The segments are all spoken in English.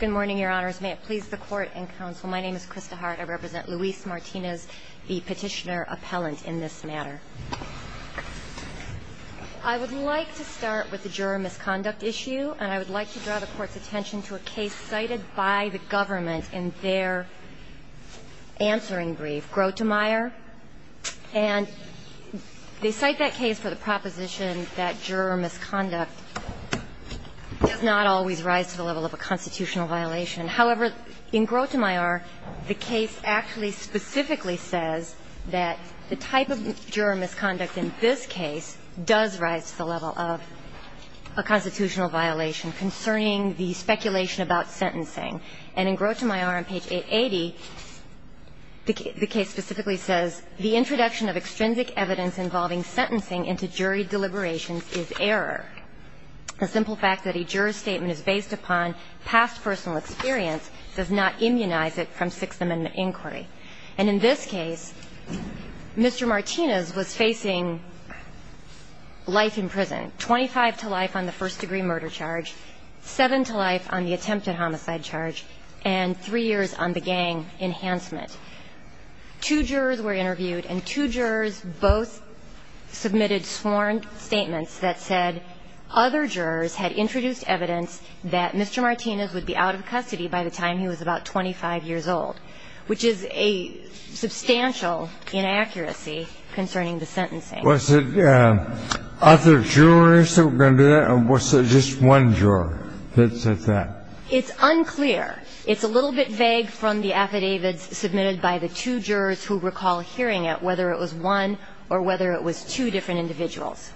Good morning, Your Honors. May it please the Court and Counsel, my name is Krista Hart. I represent Luis Martinez, the petitioner appellant in this matter. I would like to start with the juror misconduct issue, and I would like to draw the Court's attention to a case cited by the government in their answering brief, Grotemeier. And they cite that case for the proposition that juror misconduct does not always rise to the level of a constitutional violation. However, in Grotemeier, the case actually specifically says that the type of juror misconduct in this case does rise to the level of a constitutional violation concerning the speculation about sentencing. And in Grotemeier on page 880, the case specifically says, The introduction of extrinsic evidence involving sentencing into jury deliberations is error. The simple fact that a juror's statement is based upon past personal experience does not immunize it from Sixth Amendment inquiry. And in this case, Mr. Martinez was facing life in prison, 25 to life on the first-degree murder charge, 7 to life on the attempted homicide charge, and 3 years on the gang enhancement. Two jurors were interviewed, and two jurors both submitted sworn statements that said other jurors had introduced evidence that Mr. Martinez would be out of custody by the time he was about 25 years old, which is a substantial inaccuracy concerning the sentencing. Was it other jurors that were going to do that, or was it just one juror that said that? It's unclear. It's a little bit vague from the affidavits submitted by the two jurors who recall hearing it, whether it was one or whether it was two different individuals.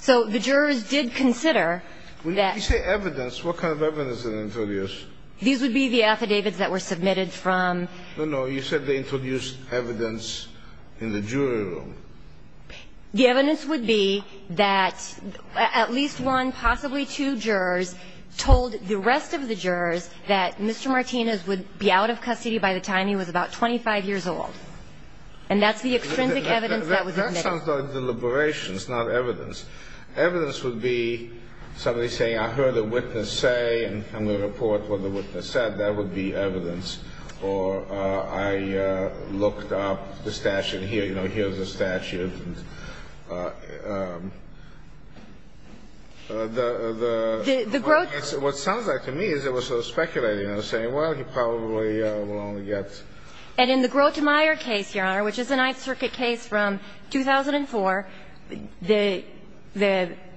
So the jurors did consider that. You say evidence. What kind of evidence did they introduce? These would be the affidavits that were submitted from. No, no. You said they introduced evidence in the jury room. The evidence would be that at least one, possibly two jurors told the rest of the jurors that Mr. Martinez would be out of custody by the time he was about 25 years old. And that's the extrinsic evidence that was admitted. That sounds like deliberations, not evidence. Evidence would be somebody saying, I heard a witness say, and I'm going to report what the witness said. That would be evidence. I don't know if the witness was going to say, I heard a witness say, I heard a witness say that, or I looked up the statute, here's the statute. The Grothmeyer case, what sounds like to me, is it was sort of speculating and saying, well, he probably will only get. And in the Grothmeyer case, Your Honor, which is a Ninth Circuit case from 2004, the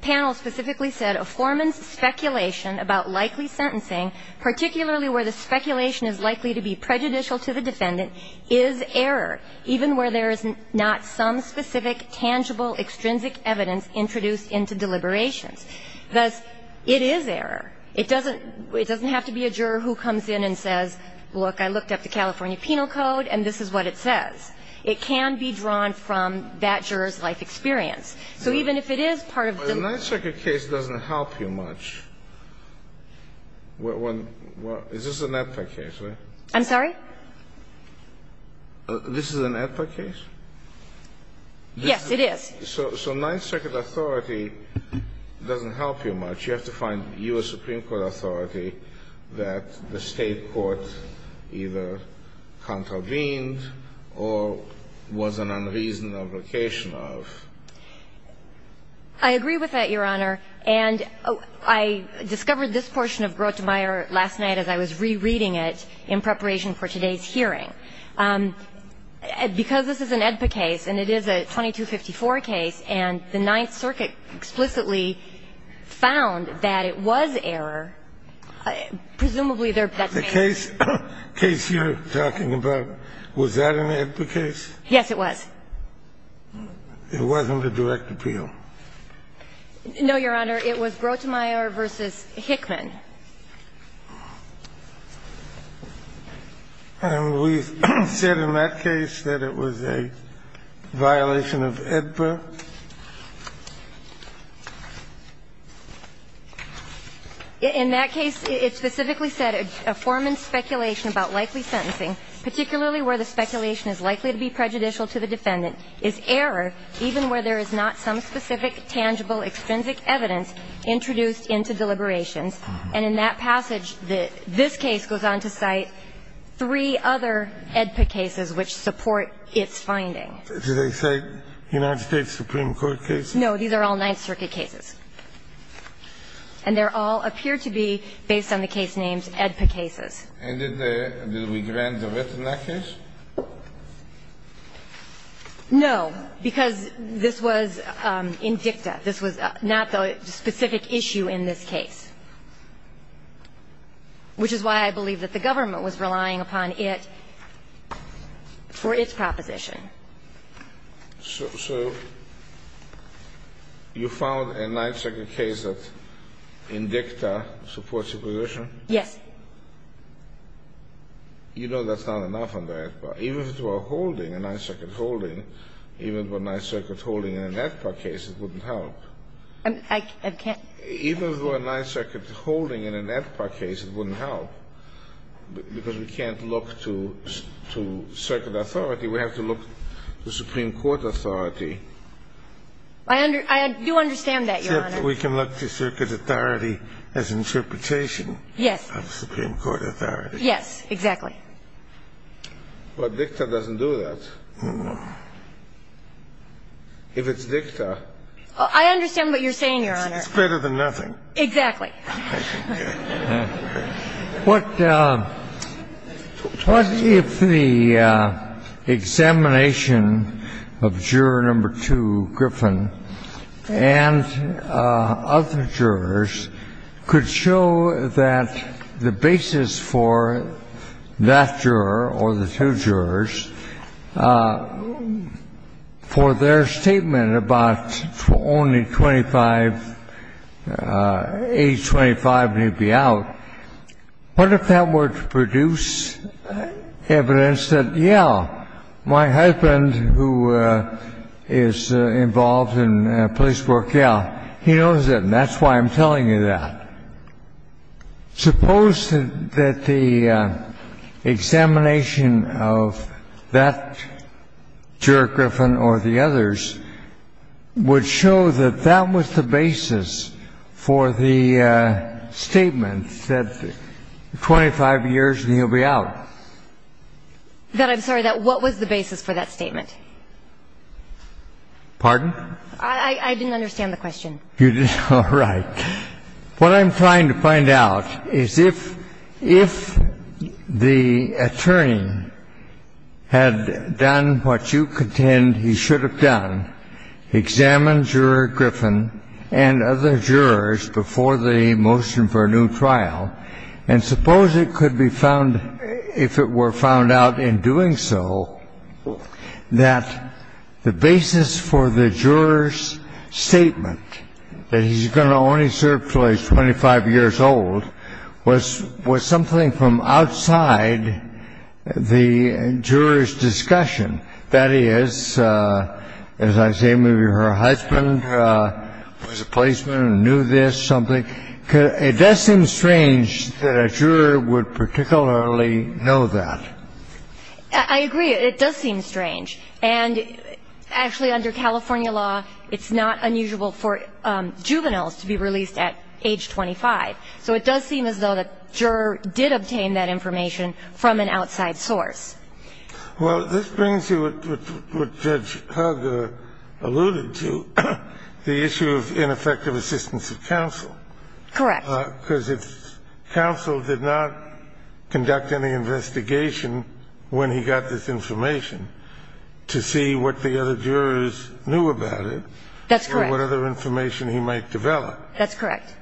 panel specifically said, a foreman's speculation about likely sentencing, particularly where the speculation is likely to be prejudicial to the defendant, is error, even where there is not some specific, tangible, extrinsic evidence introduced into deliberations. Thus, it is error. It doesn't have to be a juror who comes in and says, look, I looked up the California Penal Code, and this is what it says. It can be drawn from that juror's life experience. So even if it is part of the law. Kennedy. But a Ninth Circuit case doesn't help you much. Is this an AEDPA case? I'm sorry? This is an AEDPA case? Yes, it is. So Ninth Circuit authority doesn't help you much. You have to find U.S. Supreme Court authority that the State court either contravened or was an unreasonable occasion of. I agree with that, Your Honor. And I discovered this portion of Grotemeier last night as I was rereading it in preparation for today's hearing. Because this is an AEDPA case, and it is a 2254 case, and the Ninth Circuit explicitly found that it was error, presumably there that's the case. The case you're talking about, was that an AEDPA case? Yes, it was. It wasn't a direct appeal? No, Your Honor. It was Grotemeier v. Hickman. And we said in that case that it was a violation of AEDPA? In that case, it specifically said a foreman's speculation about likely sentencing, particularly where the speculation is likely to be prejudicial to the defendant, is error even where there is not some specific, tangible, extrinsic evidence introduced into deliberations. And in that passage, this case goes on to cite three other AEDPA cases which support its finding. Did they cite United States Supreme Court cases? No. These are all Ninth Circuit cases. And they all appear to be based on the case names AEDPA cases. And did we grant a writ in that case? No, because this was in dicta. This was not the specific issue in this case, which is why I believe that the government was relying upon it for its proposition. So you found a Ninth Circuit case that in dicta supports your position? Yes. You know that's not enough under AEDPA. Even if it were a holding, a Ninth Circuit holding, even if it were a Ninth Circuit holding in an AEDPA case, it wouldn't help. I can't. Even if it were a Ninth Circuit holding in an AEDPA case, it wouldn't help, because we can't look to circuit authority. We have to look to Supreme Court authority. I do understand that, Your Honor. Except we can look to circuit authority as interpretation. Yes. Of Supreme Court authority. Yes, exactly. But dicta doesn't do that. If it's dicta. I understand what you're saying, Your Honor. It's greater than nothing. Exactly. What if the examination of Juror No. 2, Griffin, and other jurors could show that the basis for that juror or the two jurors, for their statement about only 25-H and 25-H, and he'd be out, what if that were to produce evidence that, yeah, my husband, who is involved in police work, yeah, he knows it, and that's why I'm telling you that? Suppose that the examination of that juror, Griffin, or the others, would show that that was the basis for the statement that 25 years and he'll be out. That I'm sorry? That what was the basis for that statement? Pardon? I didn't understand the question. You didn't? All right. What I'm trying to find out is if the attorney had done what you contend he should have done, examined Juror Griffin and other jurors before the motion for a new trial, and suppose it could be found, if it were found out in doing so, that the basis for the juror's statement that he's going to only serve until he's 25 years old was something from outside the juror's experience, as I say, maybe her husband was a policeman and knew this, something. It does seem strange that a juror would particularly know that. I agree. It does seem strange. And, actually, under California law, it's not unusual for juveniles to be released at age 25. So it does seem as though the juror did obtain that information from an outside source. Well, this brings you to what Judge Hager alluded to, the issue of ineffective assistance of counsel. Correct. Because if counsel did not conduct any investigation when he got this information to see what the other jurors knew about it. That's correct. Or what other information he might develop. That's correct.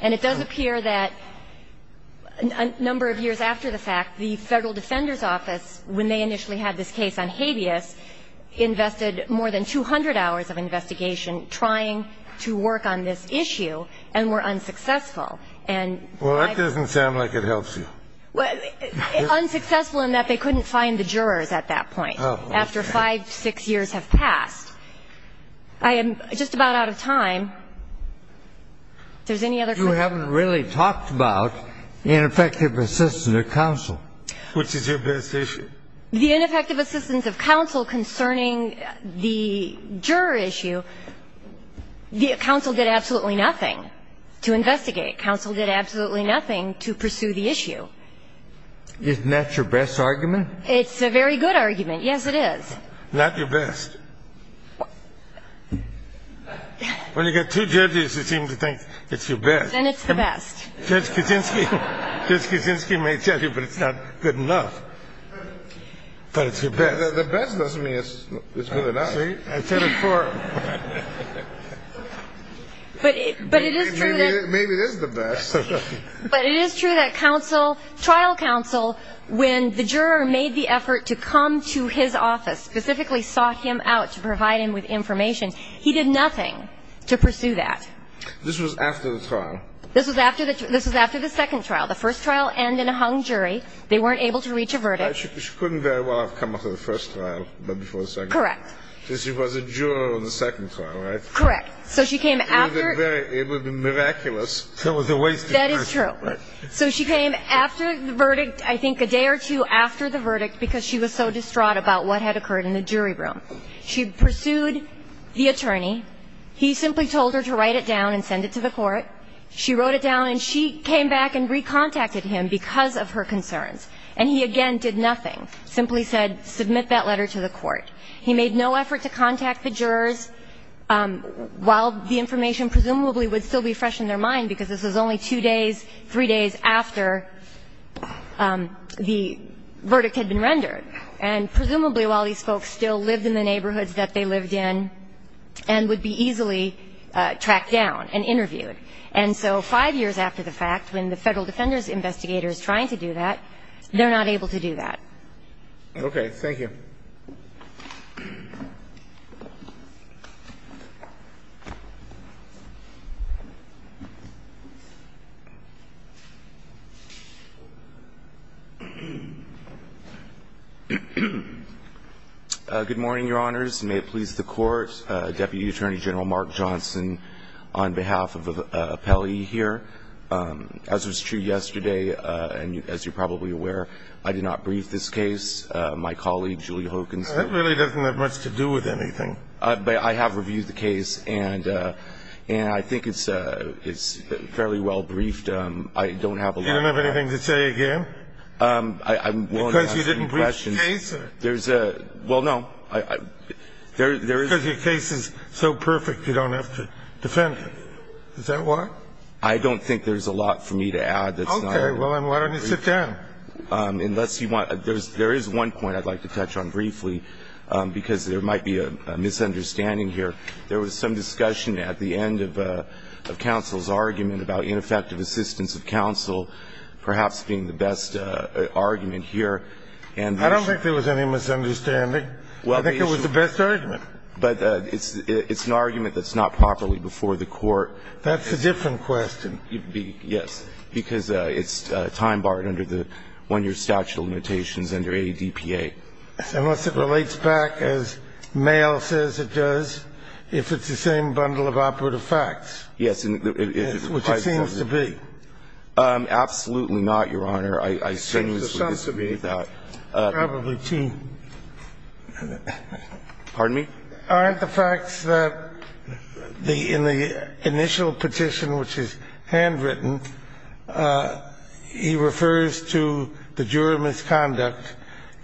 And it does appear that a number of years after the fact, the Federal Defender's Office, when they initially had this case on habeas, invested more than 200 hours of investigation trying to work on this issue and were unsuccessful. Well, that doesn't sound like it helps you. Unsuccessful in that they couldn't find the jurors at that point. After 5, 6 years have passed. I am just about out of time. If there's any other questions. You haven't really talked about ineffective assistance of counsel. Which is your best issue. The ineffective assistance of counsel concerning the juror issue, the counsel did absolutely nothing to investigate. Counsel did absolutely nothing to pursue the issue. Isn't that your best argument? It's a very good argument. Yes, it is. Not your best. When you get two judges who seem to think it's your best. Then it's the best. Judge Kaczynski may tell you, but it's not good enough. But it's your best. The best doesn't mean it's good enough. See, I said it before. But it is true that. Maybe it is the best. But it is true that trial counsel, when the juror made the effort to come to his office, specifically sought him out to provide him with information, he did nothing to pursue that. This was after the trial. This was after the second trial. The first trial ended in a hung jury. They weren't able to reach a verdict. She couldn't very well have come after the first trial, but before the second. Correct. She was a juror on the second trial, right? Correct. So she came after. It would have been miraculous. That is true. So she came after the verdict, I think a day or two after the verdict, because she was so distraught about what had occurred in the jury room. She pursued the attorney. He simply told her to write it down and send it to the court. She wrote it down, and she came back and recontacted him because of her concerns. And he again did nothing, simply said, submit that letter to the court. He made no effort to contact the jurors, while the information presumably would still be fresh in their mind because this was only two days, three days after the verdict had been rendered. And presumably while these folks still lived in the neighborhoods that they lived in and would be easily tracked down and interviewed. And so five years after the fact, when the Federal Defender's Investigator is trying to do that, they're not able to do that. Okay. Thank you. Good morning, Your Honors. May it please the Court. Deputy Attorney General Mark Johnson, on behalf of the appellee here. As was true yesterday, and as you're probably aware, I did not brief this case. I did not brief this case. I have reviewed the case, and I think it's fairly well briefed. I don't have a lot to add. You don't have anything to say again? Because you didn't brief the case? Well, no. Because your case is so perfect, you don't have to defend it. Is that what? I don't think there's a lot for me to add that's not in the brief. Okay. Well, then why don't you sit down? Unless you want to. There is one point I'd like to touch on briefly, because there might be a misunderstanding here. There was some discussion at the end of counsel's argument about ineffective assistance of counsel perhaps being the best argument here. I don't think there was any misunderstanding. I think it was the best argument. But it's an argument that's not properly before the Court. That's a different question. Can I just add something? Yes. Because it's time-barred under the one-year statute of limitations under ADPA. Unless it relates back, as Mayo says it does, if it's the same bundle of operative facts. Yes. Which it seems to be. Absolutely not, Your Honor. I sinuously disagree with that. Probably too. Pardon me? Aren't the facts that in the initial petition, which is handwritten, he refers to the jury misconduct,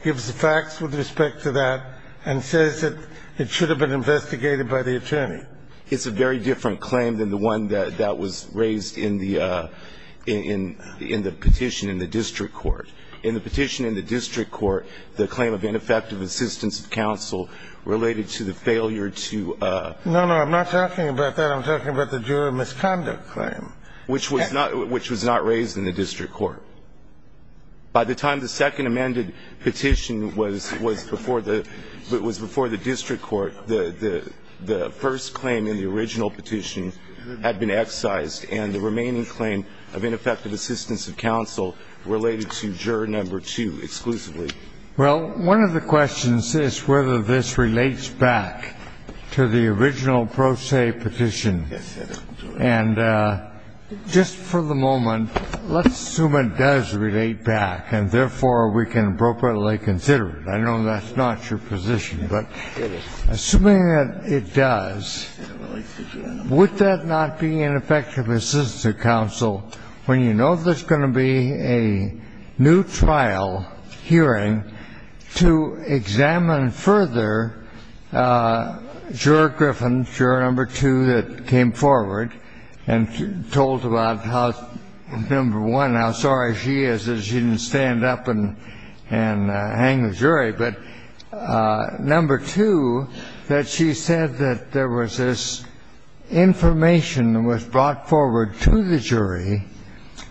gives the facts with respect to that, and says that it should have been investigated by the attorney? It's a very different claim than the one that was raised in the petition in the district court. In the petition in the district court, the claim of ineffective assistance of counsel related to the failure to ---- No, no. I'm not talking about that. I'm talking about the juror misconduct claim. Which was not raised in the district court. By the time the second amended petition was before the district court, the first claim in the original petition had been excised, and the remaining claim of ineffective assistance of counsel related to juror number two exclusively. Well, one of the questions is whether this relates back to the original pro se petition. Yes, it does. And just for the moment, let's assume it does relate back, and therefore we can appropriately consider it. I know that's not your position, but assuming that it does, would that not be ineffective assistance of counsel when you know there's going to be a new trial hearing to examine further juror Griffin, juror number two that came forward and told about how number one, how sorry she is that she didn't stand up and hang the jury, but number two, that she would not forward to the jury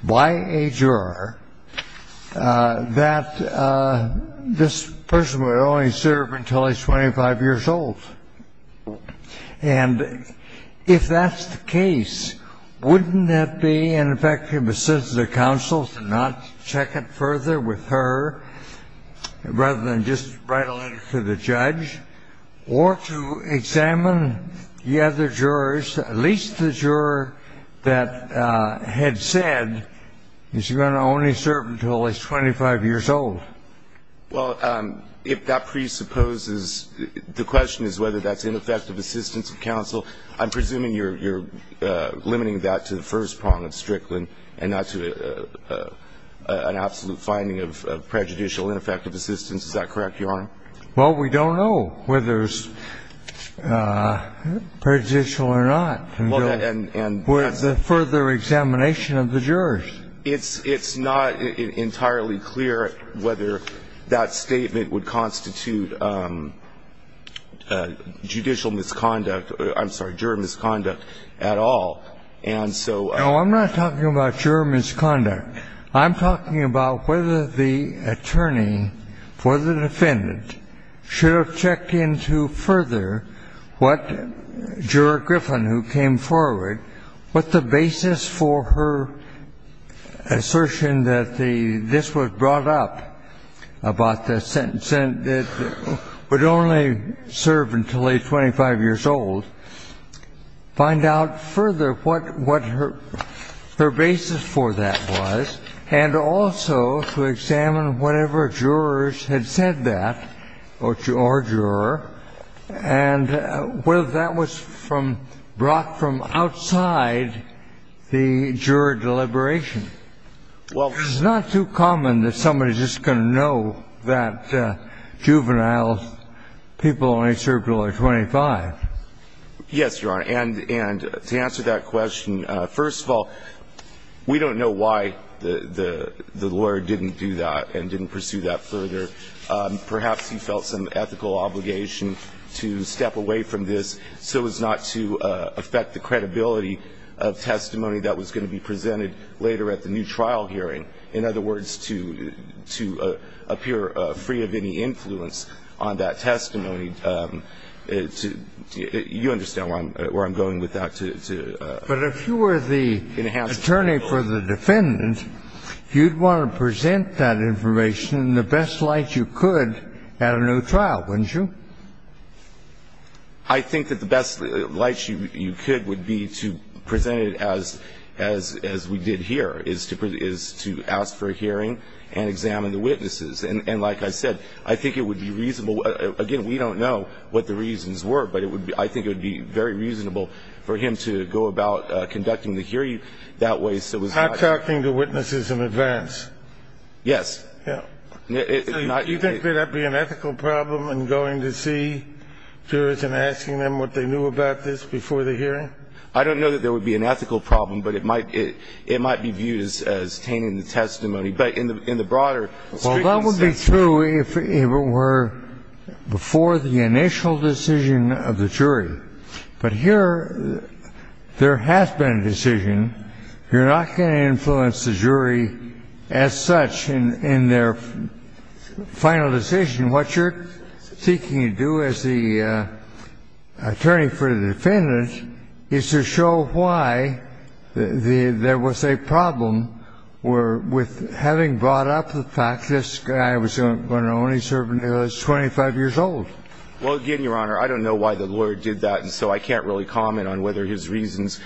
by a juror that this person would only serve until he's 25 years old? And if that's the case, wouldn't that be an effective assistance of counsel to not check it further with her rather than just write a letter to the judge, or to examine whether or not number one, the other jurors, at least the juror that had said is going to only serve until he's 25 years old? Well, if that presupposes the question is whether that's ineffective assistance of counsel, I'm presuming you're limiting that to the first prong of Strickland and not to an absolute finding of prejudicial ineffective assistance. Is that correct, Your Honor? Well, we don't know whether it's prejudicial or not until further examination of the jurors. It's not entirely clear whether that statement would constitute judicial misconduct, I'm sorry, juror misconduct at all. No, I'm not talking about juror misconduct. I'm talking about whether the attorney for the defendant should have checked into further what juror Griffin, who came forward, what the basis for her assertion that this was brought up about the sentence, that it would only serve until he's 25 years old, find out further what her basis for that was. And also to examine whatever jurors had said that, or juror, and whether that was from brought from outside the juror deliberation. Well, it's not too common that somebody's just going to know that juvenile people only serve until they're 25. Yes, Your Honor. And to answer that question, first of all, we don't know why the lawyer didn't do that and didn't pursue that further. Perhaps he felt some ethical obligation to step away from this so as not to affect the credibility of testimony that was going to be presented later at the new trial hearing. In other words, to appear free of any influence on that testimony. You understand where I'm going with that. But if you were the attorney for the defendant, you'd want to present that information in the best light you could at a new trial, wouldn't you? I think that the best light you could would be to present it as we did here, is to ask for a hearing and examine the witnesses. And like I said, I think it would be reasonable. Again, we don't know what the reasons were, but I think it would be very reasonable for him to go about conducting the hearing that way so as not to affect the credibility of testimony that was going to be presented later at the new trial hearing. Yes. Do you think there would be an ethical problem in going to see jurors and asking them what they knew about this before the hearing? I don't know that there would be an ethical problem, but it might be viewed as tainting the testimony. But in the broader speaking sense of the word. Well, that would be true if it were before the initial decision of the jury. But here there has been a decision. You're not going to influence the jury as such in their final decision. What you're seeking to do as the attorney for the defendant is to show why there was a problem with having brought up the fact that this guy was going to only serve until he was 25 years old. Well, again, Your Honor, I don't know why the lawyer did that, and so I can't really comment on whether his reasons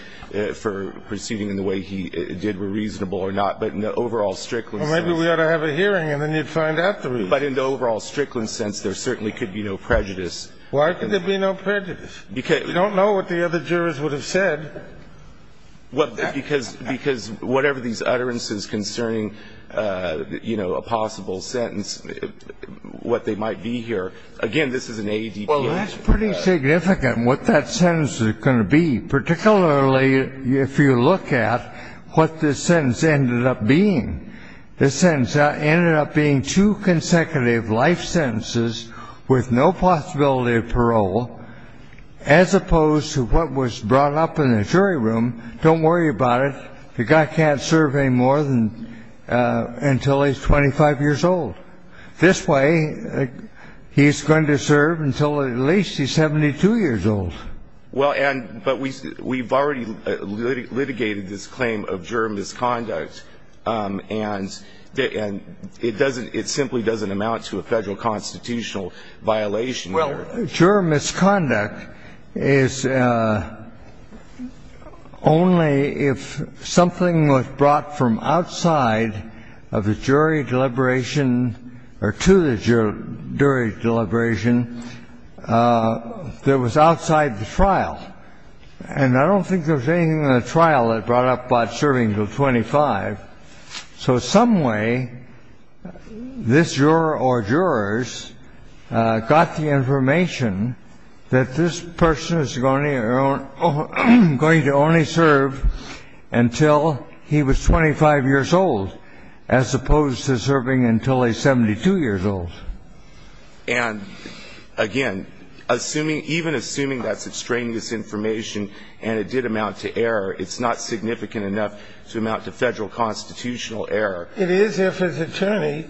for proceeding in the way he did were reasonable or not. But in the overall Strickland sense. Well, maybe we ought to have a hearing and then you'd find out the reason. But in the overall Strickland sense, there certainly could be no prejudice. Why could there be no prejudice? We don't know what the other jurors would have said. Because whatever these utterances concerning, you know, a possible sentence, what they might be here, again, this is an ADP. Well, that's pretty significant, what that sentence is going to be, particularly if you look at what this sentence ended up being. This sentence ended up being two consecutive life sentences with no possibility of parole, as opposed to what was brought up in the jury room. Don't worry about it. The guy can't serve any more than until he's 25 years old. This way, he's going to serve until at least he's 72 years old. Well, and we've already litigated this claim of juror misconduct, and it doesn't it simply doesn't amount to a Federal constitutional violation here. Well, juror misconduct is only if something was brought from outside of the jury deliberation or to the jury deliberation that was outside the trial. And I don't think there was anything in the trial that brought up Bob serving until 25. So some way, this juror or jurors got the information that this person is going to only serve until he was 25 years old, as opposed to serving until he's 72 years old. And, again, even assuming that's extraneous information and it did amount to error, it's not significant enough to amount to Federal constitutional error. It is if his attorney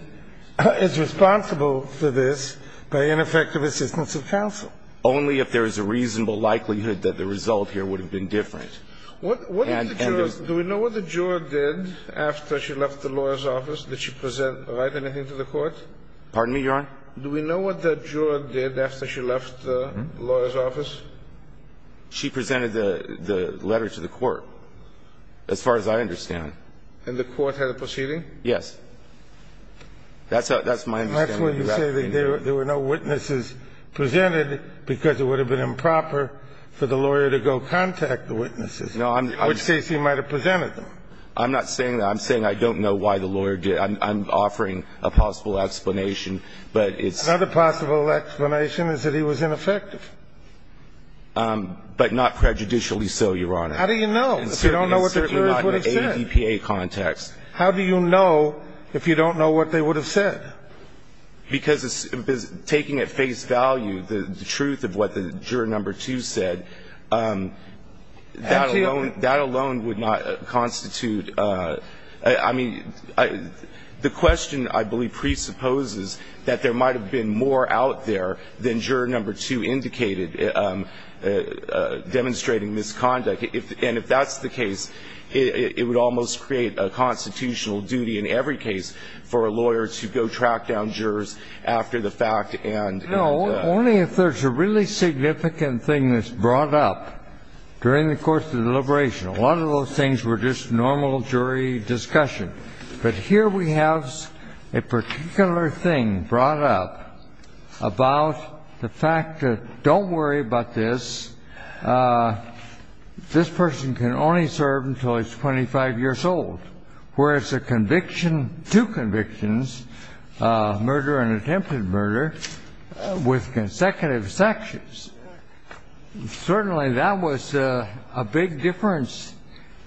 is responsible for this by ineffective assistance of counsel. Only if there is a reasonable likelihood that the result here would have been different. Do we know what the juror did after she left the lawyer's office? Did she write anything to the court? Pardon me, Your Honor? Do we know what the juror did after she left the lawyer's office? She presented the letter to the court, as far as I understand. And the court had a proceeding? Yes. That's my understanding. And that's why you say that there were no witnesses presented, because it would have been improper for the lawyer to go contact the witnesses, in which case he might have presented them. I'm not saying that. I'm saying I don't know why the lawyer did it. I'm offering a possible explanation, but it's... Another possible explanation is that he was ineffective. But not prejudicially so, Your Honor. How do you know? If you don't know what the jurors would have said. It's certainly not in an ADPA context. How do you know if you don't know what they would have said? Because taking at face value the truth of what the juror number two said, that alone would not constitute – I mean, the question, I believe, presupposes that there might have been more out there than juror number two indicated, demonstrating misconduct. And if that's the case, it would almost create a constitutional duty in every case for a lawyer to go track down jurors after the fact and... No, only if there's a really significant thing that's brought up during the course of the deliberation. A lot of those things were just normal jury discussion. But here we have a particular thing brought up about the fact that, don't worry about this, this person can only serve until he's 25 years old. Whereas a conviction, two convictions, murder and attempted murder, with consecutive sections. Certainly that was a big difference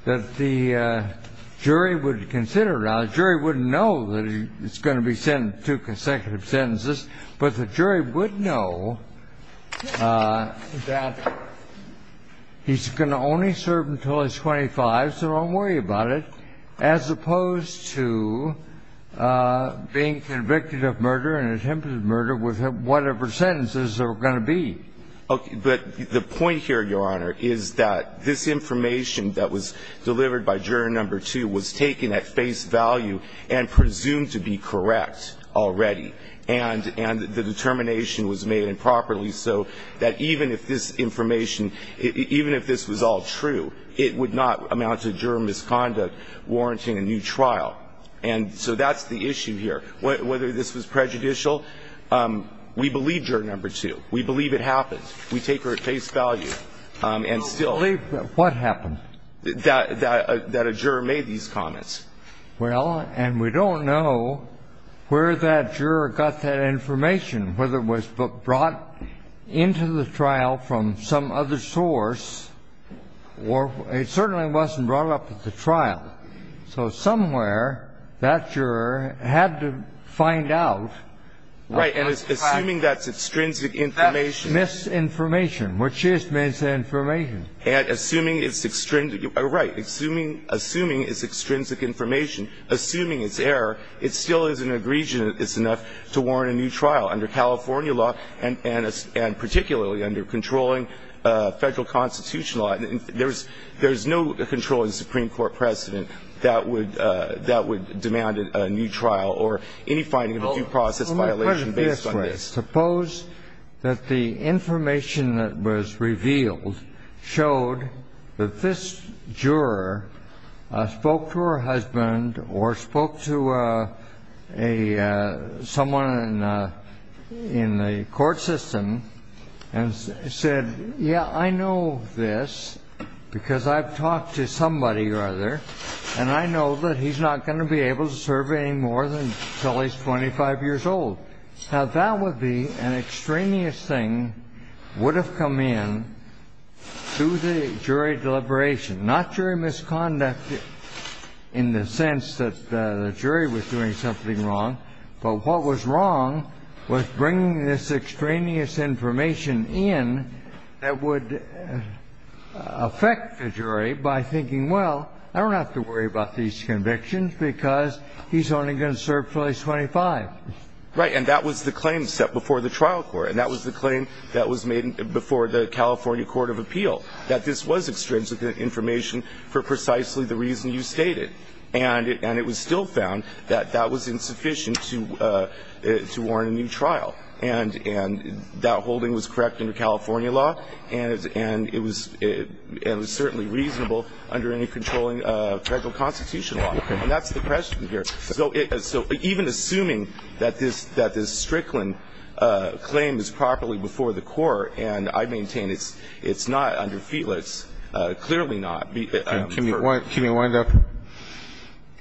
that the jury would consider. Now, the jury wouldn't know that it's going to be two consecutive sentences. But the jury would know that he's going to only serve until he's 25, so don't worry about it. As opposed to being convicted of murder and attempted murder with whatever sentences there are going to be. Okay. But the point here, Your Honor, is that this information that was delivered by juror number two was taken at face value and presumed to be correct already. And the determination was made improperly so that even if this information – even if this was all true, it would not amount to juror misconduct warranting a new trial. And so that's the issue here. Whether this was prejudicial, we believe juror number two. We believe it happened. We take her at face value. And still – We believe what happened. That a juror made these comments. Well, and we don't know where that juror got that information, whether it was brought into the trial from some other source or it certainly wasn't brought up at the trial. So somewhere that juror had to find out. Right. And assuming that's extrinsic information. That's misinformation, which is misinformation. And assuming it's – right. Assuming it's extrinsic information, assuming it's error, it still is an aggregation that it's enough to warrant a new trial under California law and particularly under controlling Federal Constitution law. There's no controlling Supreme Court precedent that would demand a new trial or any finding of a due process violation based on this. Suppose that the information that was revealed showed that this juror spoke to her husband or spoke to someone in the court system and said, yeah, I know this because I've talked to somebody or other and I know that he's not going to be able to serve any more until he's 25 years old. Now, that would be an extraneous thing would have come in to the jury deliberation, not jury misconduct in the sense that the jury was doing something wrong. But what was wrong was bringing this extraneous information in that would affect the jury by thinking, well, I don't have to worry about these convictions because he's only going to serve until he's 25. Right. And that was the claim set before the trial court. And that was the claim that was made before the California court of appeal, that this was extrinsic information for precisely the reason you stated. And it was still found that that was insufficient to warrant a new trial. And that holding was correct under California law, and it was certainly reasonable under any controlling federal constitutional law. And that's the question here. So even assuming that this Strickland claim is properly before the court, and I maintain it's not under Felix, clearly not. Can you wind up?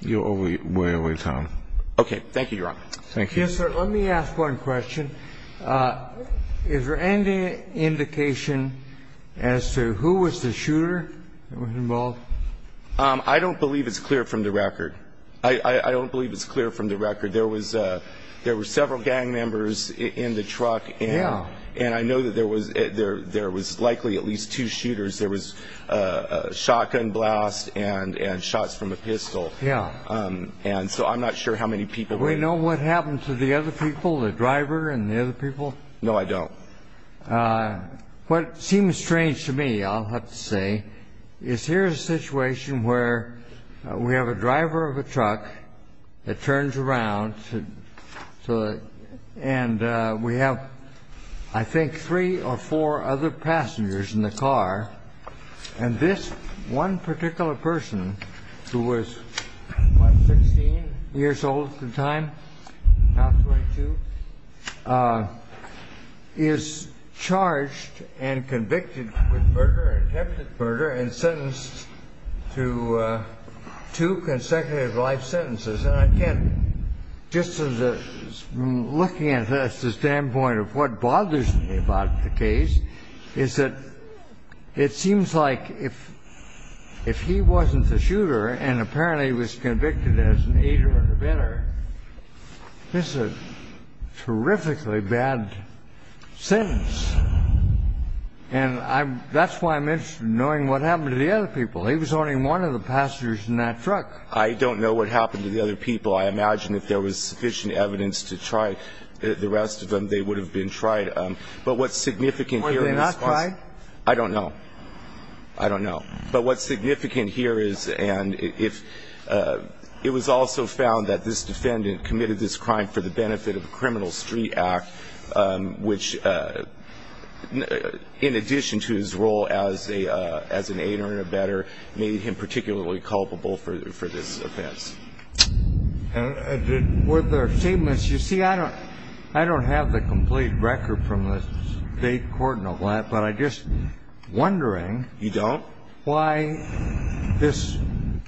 You're way over time. Okay. Thank you, Your Honor. Thank you. Yes, sir. Let me ask one question. Is there any indication as to who was the shooter that was involved? I don't believe it's clear from the record. I don't believe it's clear from the record. There were several gang members in the truck. Yeah. And I know that there was likely at least two shooters. There was a shotgun blast and shots from a pistol. Yeah. And so I'm not sure how many people were there. Do we know what happened to the other people, the driver and the other people? No, I don't. What seems strange to me, I'll have to say, is here's a situation where we have a driver of a truck that turns around, and we have, I think, three or four other passengers in the car, and this one particular person who was, what, 16 years old at the time, now 22, is charged and convicted with murder, attempted murder, and sentenced to two consecutive life sentences. And I can't, just as a, looking at it as the standpoint of what bothers me about the case, is that it seems like if he wasn't the shooter and apparently was convicted as an aider or a vendor, this is a terrifically bad sentence. And that's why I'm interested in knowing what happened to the other people. He was only one of the passengers in that truck. I don't know what happened to the other people. I imagine if there was sufficient evidence to try the rest of them, they would have been tried. But what's significant here is... Were they not tried? I don't know. I don't know. But what's significant here is, and it was also found that this defendant committed this crime for the benefit of the Criminal Street Act, which in addition to his role as an aider and a vendor made him particularly culpable for this offense. Were there statements? You see, I don't have the complete record from the state court and all that, but I'm just wondering. You don't? Why this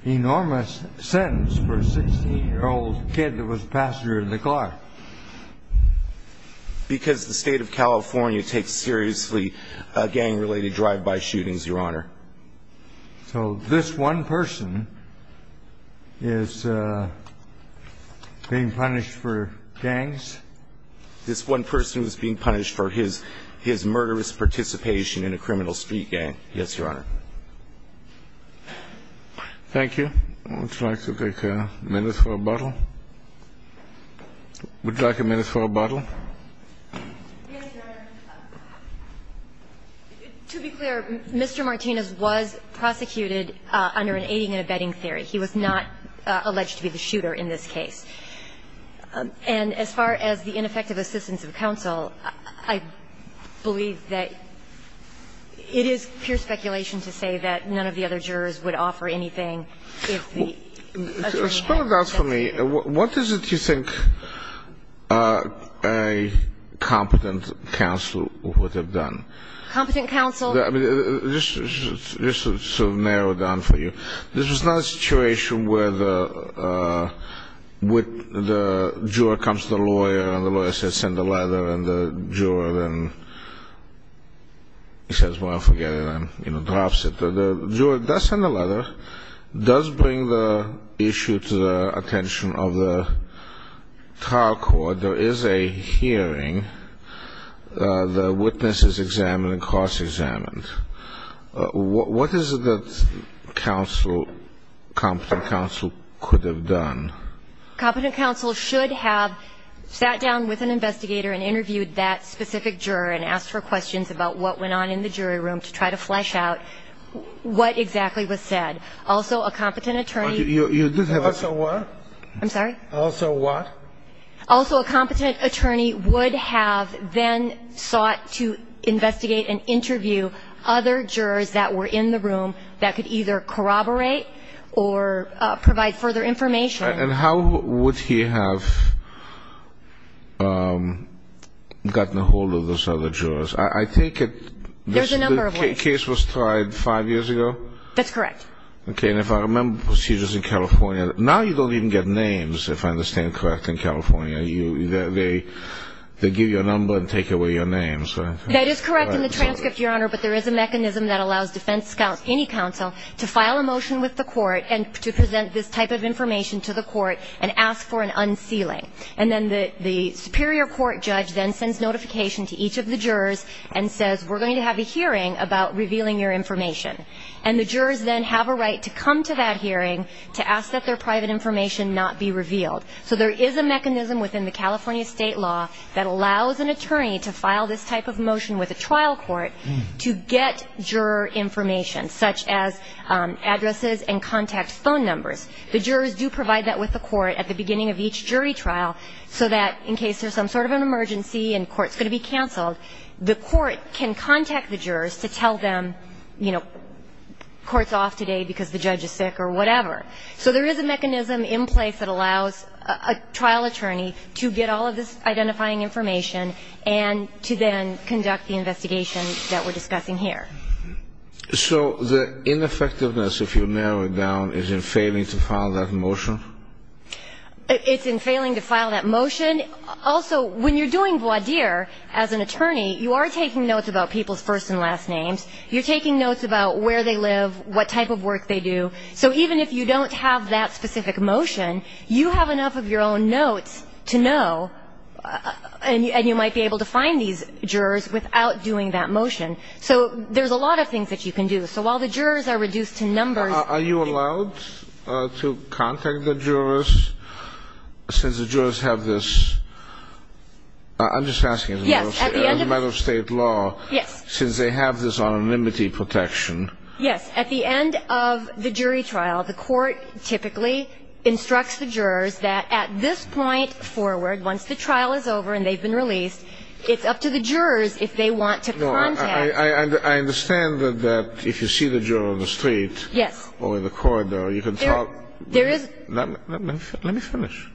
enormous sentence for a 16-year-old kid that was a passenger in the car? Because the state of California takes seriously gang-related drive-by shootings, Your Honor. So this one person is being punished for gangs? This one person is being punished for his murderous participation in a criminal street gang. Yes, Your Honor. Thank you. Would you like to take a minute for rebuttal? Would you like a minute for rebuttal? Yes, Your Honor. To be clear, Mr. Martinez was prosecuted under an aiding and abetting theory. He was not alleged to be the shooter in this case. And as far as the ineffective assistance of counsel, I believe that it is pure speculation to say that none of the other jurors would offer anything if the attorney had said so. Explain that for me. What is it you think a competent counsel would have done? Competent counsel? Let me just sort of narrow it down for you. This was not a situation where the juror comes to the lawyer, and the lawyer says, send a letter, and the juror then says, well, forget it, and drops it. The juror does send a letter, does bring the issue to the attention of the trial court. There is a hearing. The witness is examined and cross-examined. What is it that counsel, competent counsel, could have done? Competent counsel should have sat down with an investigator and interviewed that specific juror and asked her questions about what went on in the jury room to try to flesh out what exactly was said. Also, a competent attorney. Also what? I'm sorry? Also what? And then sought to investigate and interview other jurors that were in the room that could either corroborate or provide further information. And how would he have gotten a hold of those other jurors? I take it the case was tried five years ago? That's correct. Okay. And if I remember procedures in California, now you don't even get names, if I understand correctly, in California. They give you a number and take away your name. That is correct in the transcript, Your Honor. But there is a mechanism that allows defense counsel, any counsel, to file a motion with the court and to present this type of information to the court and ask for an unsealing. And then the superior court judge then sends notification to each of the jurors and says, we're going to have a hearing about revealing your information. And the jurors then have a right to come to that hearing to ask that their private information not be revealed. So there is a mechanism within the California state law that allows an attorney to file this type of motion with a trial court to get juror information, such as addresses and contact phone numbers. The jurors do provide that with the court at the beginning of each jury trial, so that in case there's some sort of an emergency and court's going to be canceled, the court can contact the jurors to tell them, you know, court's off today because the judge is sick or whatever. So there is a mechanism in place that allows a trial attorney to get all of this identifying information and to then conduct the investigation that we're discussing here. So the ineffectiveness, if you narrow it down, is in failing to file that motion? It's in failing to file that motion. Also, when you're doing voir dire as an attorney, you are taking notes about people's first and last names. You're taking notes about where they live, what type of work they do. So even if you don't have that specific motion, you have enough of your own notes to know, and you might be able to find these jurors without doing that motion. So there's a lot of things that you can do. So while the jurors are reduced to numbers... Are you allowed to contact the jurors since the jurors have this? I'm just asking as a matter of state law. Yes. Since they have this anonymity protection. Yes. At the end of the jury trial, the court typically instructs the jurors that at this point forward, once the trial is over and they've been released, it's up to the jurors if they want to contact... No. I understand that if you see the juror on the street... Yes. Or in the corridor, you can talk... There is... Let me finish.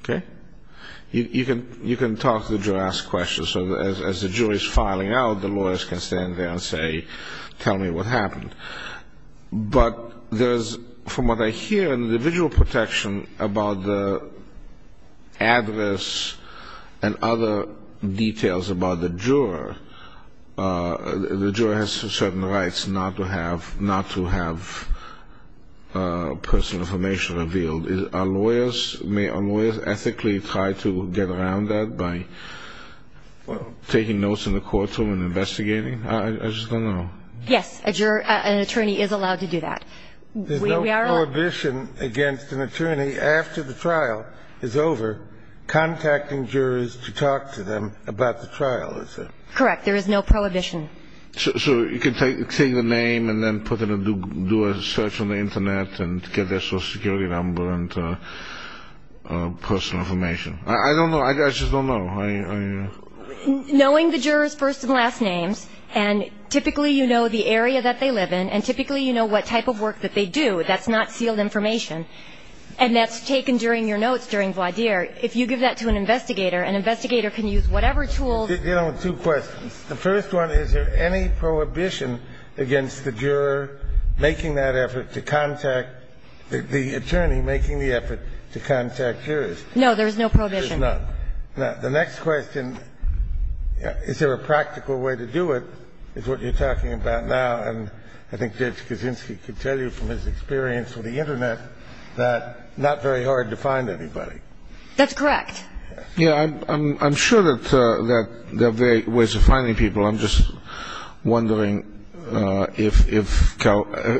Okay? You can talk to the juror, ask questions. So as the jury is filing out, the lawyers can stand there and say, tell me what happened. But there's, from what I hear, an individual protection about the address and other details about the juror. The juror has certain rights not to have personal information revealed. Are lawyers, may lawyers ethically try to get around that by taking notes in the courtroom and investigating? I just don't know. Yes. An attorney is allowed to do that. There's no prohibition against an attorney, after the trial is over, contacting jurors to talk to them about the trial, is there? Correct. There is no prohibition. So you can take the name and then put it and do a search on the Internet and get their social security number and personal information. I don't know. I just don't know. Knowing the jurors' first and last names, and typically you know the area that they live in, and typically you know what type of work that they do, that's not sealed information, and that's taken during your notes during voir dire, if you give that to an investigator, an investigator can use whatever tools... You know, two questions. The first one, is there any prohibition against the juror making that effort to contact, the attorney making the effort to contact jurors? No, there's no prohibition. There's not. Now, the next question, is there a practical way to do it, is what you're talking about now, and I think Judge Kaczynski can tell you from his experience with the Internet that not very hard to find anybody. That's correct. Yeah, I'm sure that there are ways of finding people. I'm just wondering if,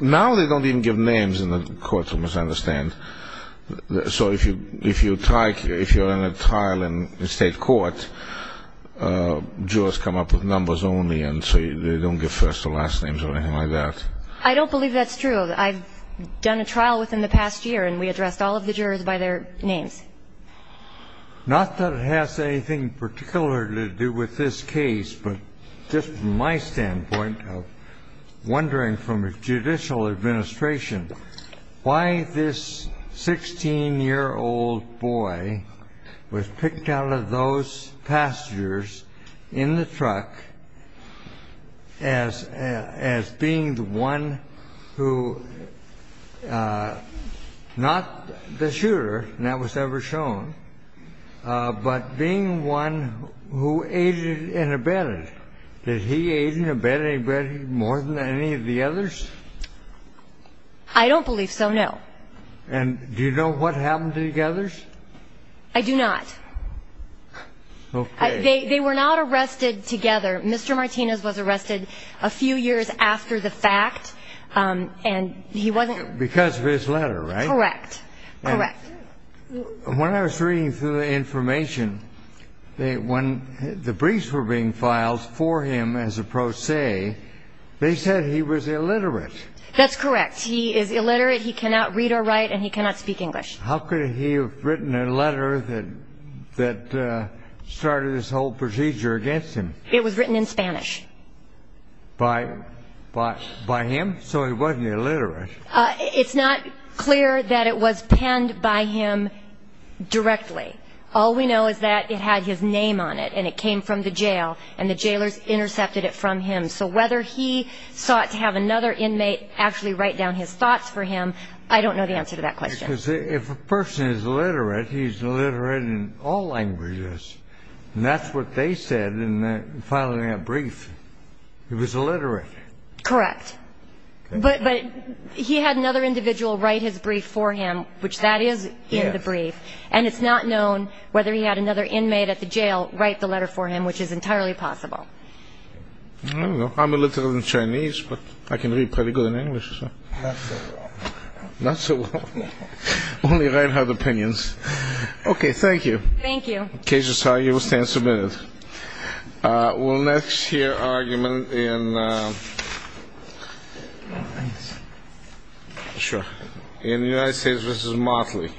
now they don't even give names in the courtroom, as I understand, so if you're in a trial in state court, jurors come up with numbers only, and so they don't give first or last names or anything like that. I don't believe that's true. I've done a trial within the past year and we addressed all of the jurors by their names. Not that it has anything particularly to do with this case, but just from my standpoint of wondering from a judicial administration, why this 16-year-old boy was picked out of those passengers in the truck as being the one who, not the shooter that was ever shown, but being one who aided and abetted. Did he aid and abet anybody more than any of the others? I don't believe so, no. And do you know what happened to the others? I do not. Okay. They were not arrested together. Mr. Martinez was arrested a few years after the fact, and he wasn't ---- Because of his letter, right? Correct, correct. When I was reading through the information, when the briefs were being filed for him as a pro se, they said he was illiterate. That's correct. He is illiterate, he cannot read or write, and he cannot speak English. How could he have written a letter that started this whole procedure against him? It was written in Spanish. By him? So he wasn't illiterate. It's not clear that it was penned by him directly. All we know is that it had his name on it, and it came from the jail, and the jailors intercepted it from him. So whether he sought to have another inmate actually write down his thoughts for him, I don't know the answer to that question. Because if a person is illiterate, he's illiterate in all languages, and that's what they said in filing that brief. He was illiterate. Correct. But he had another individual write his brief for him, which that is in the brief, and it's not known whether he had another inmate at the jail write the letter for him, which is entirely possible. I don't know. I'm illiterate in Chinese, but I can read pretty good in English. Not so well. Not so well. Only I have opinions. Okay. Thank you. Thank you. The case is argued. We'll stand submitted. We'll next hear argument in the United States v. Motley. Thank you.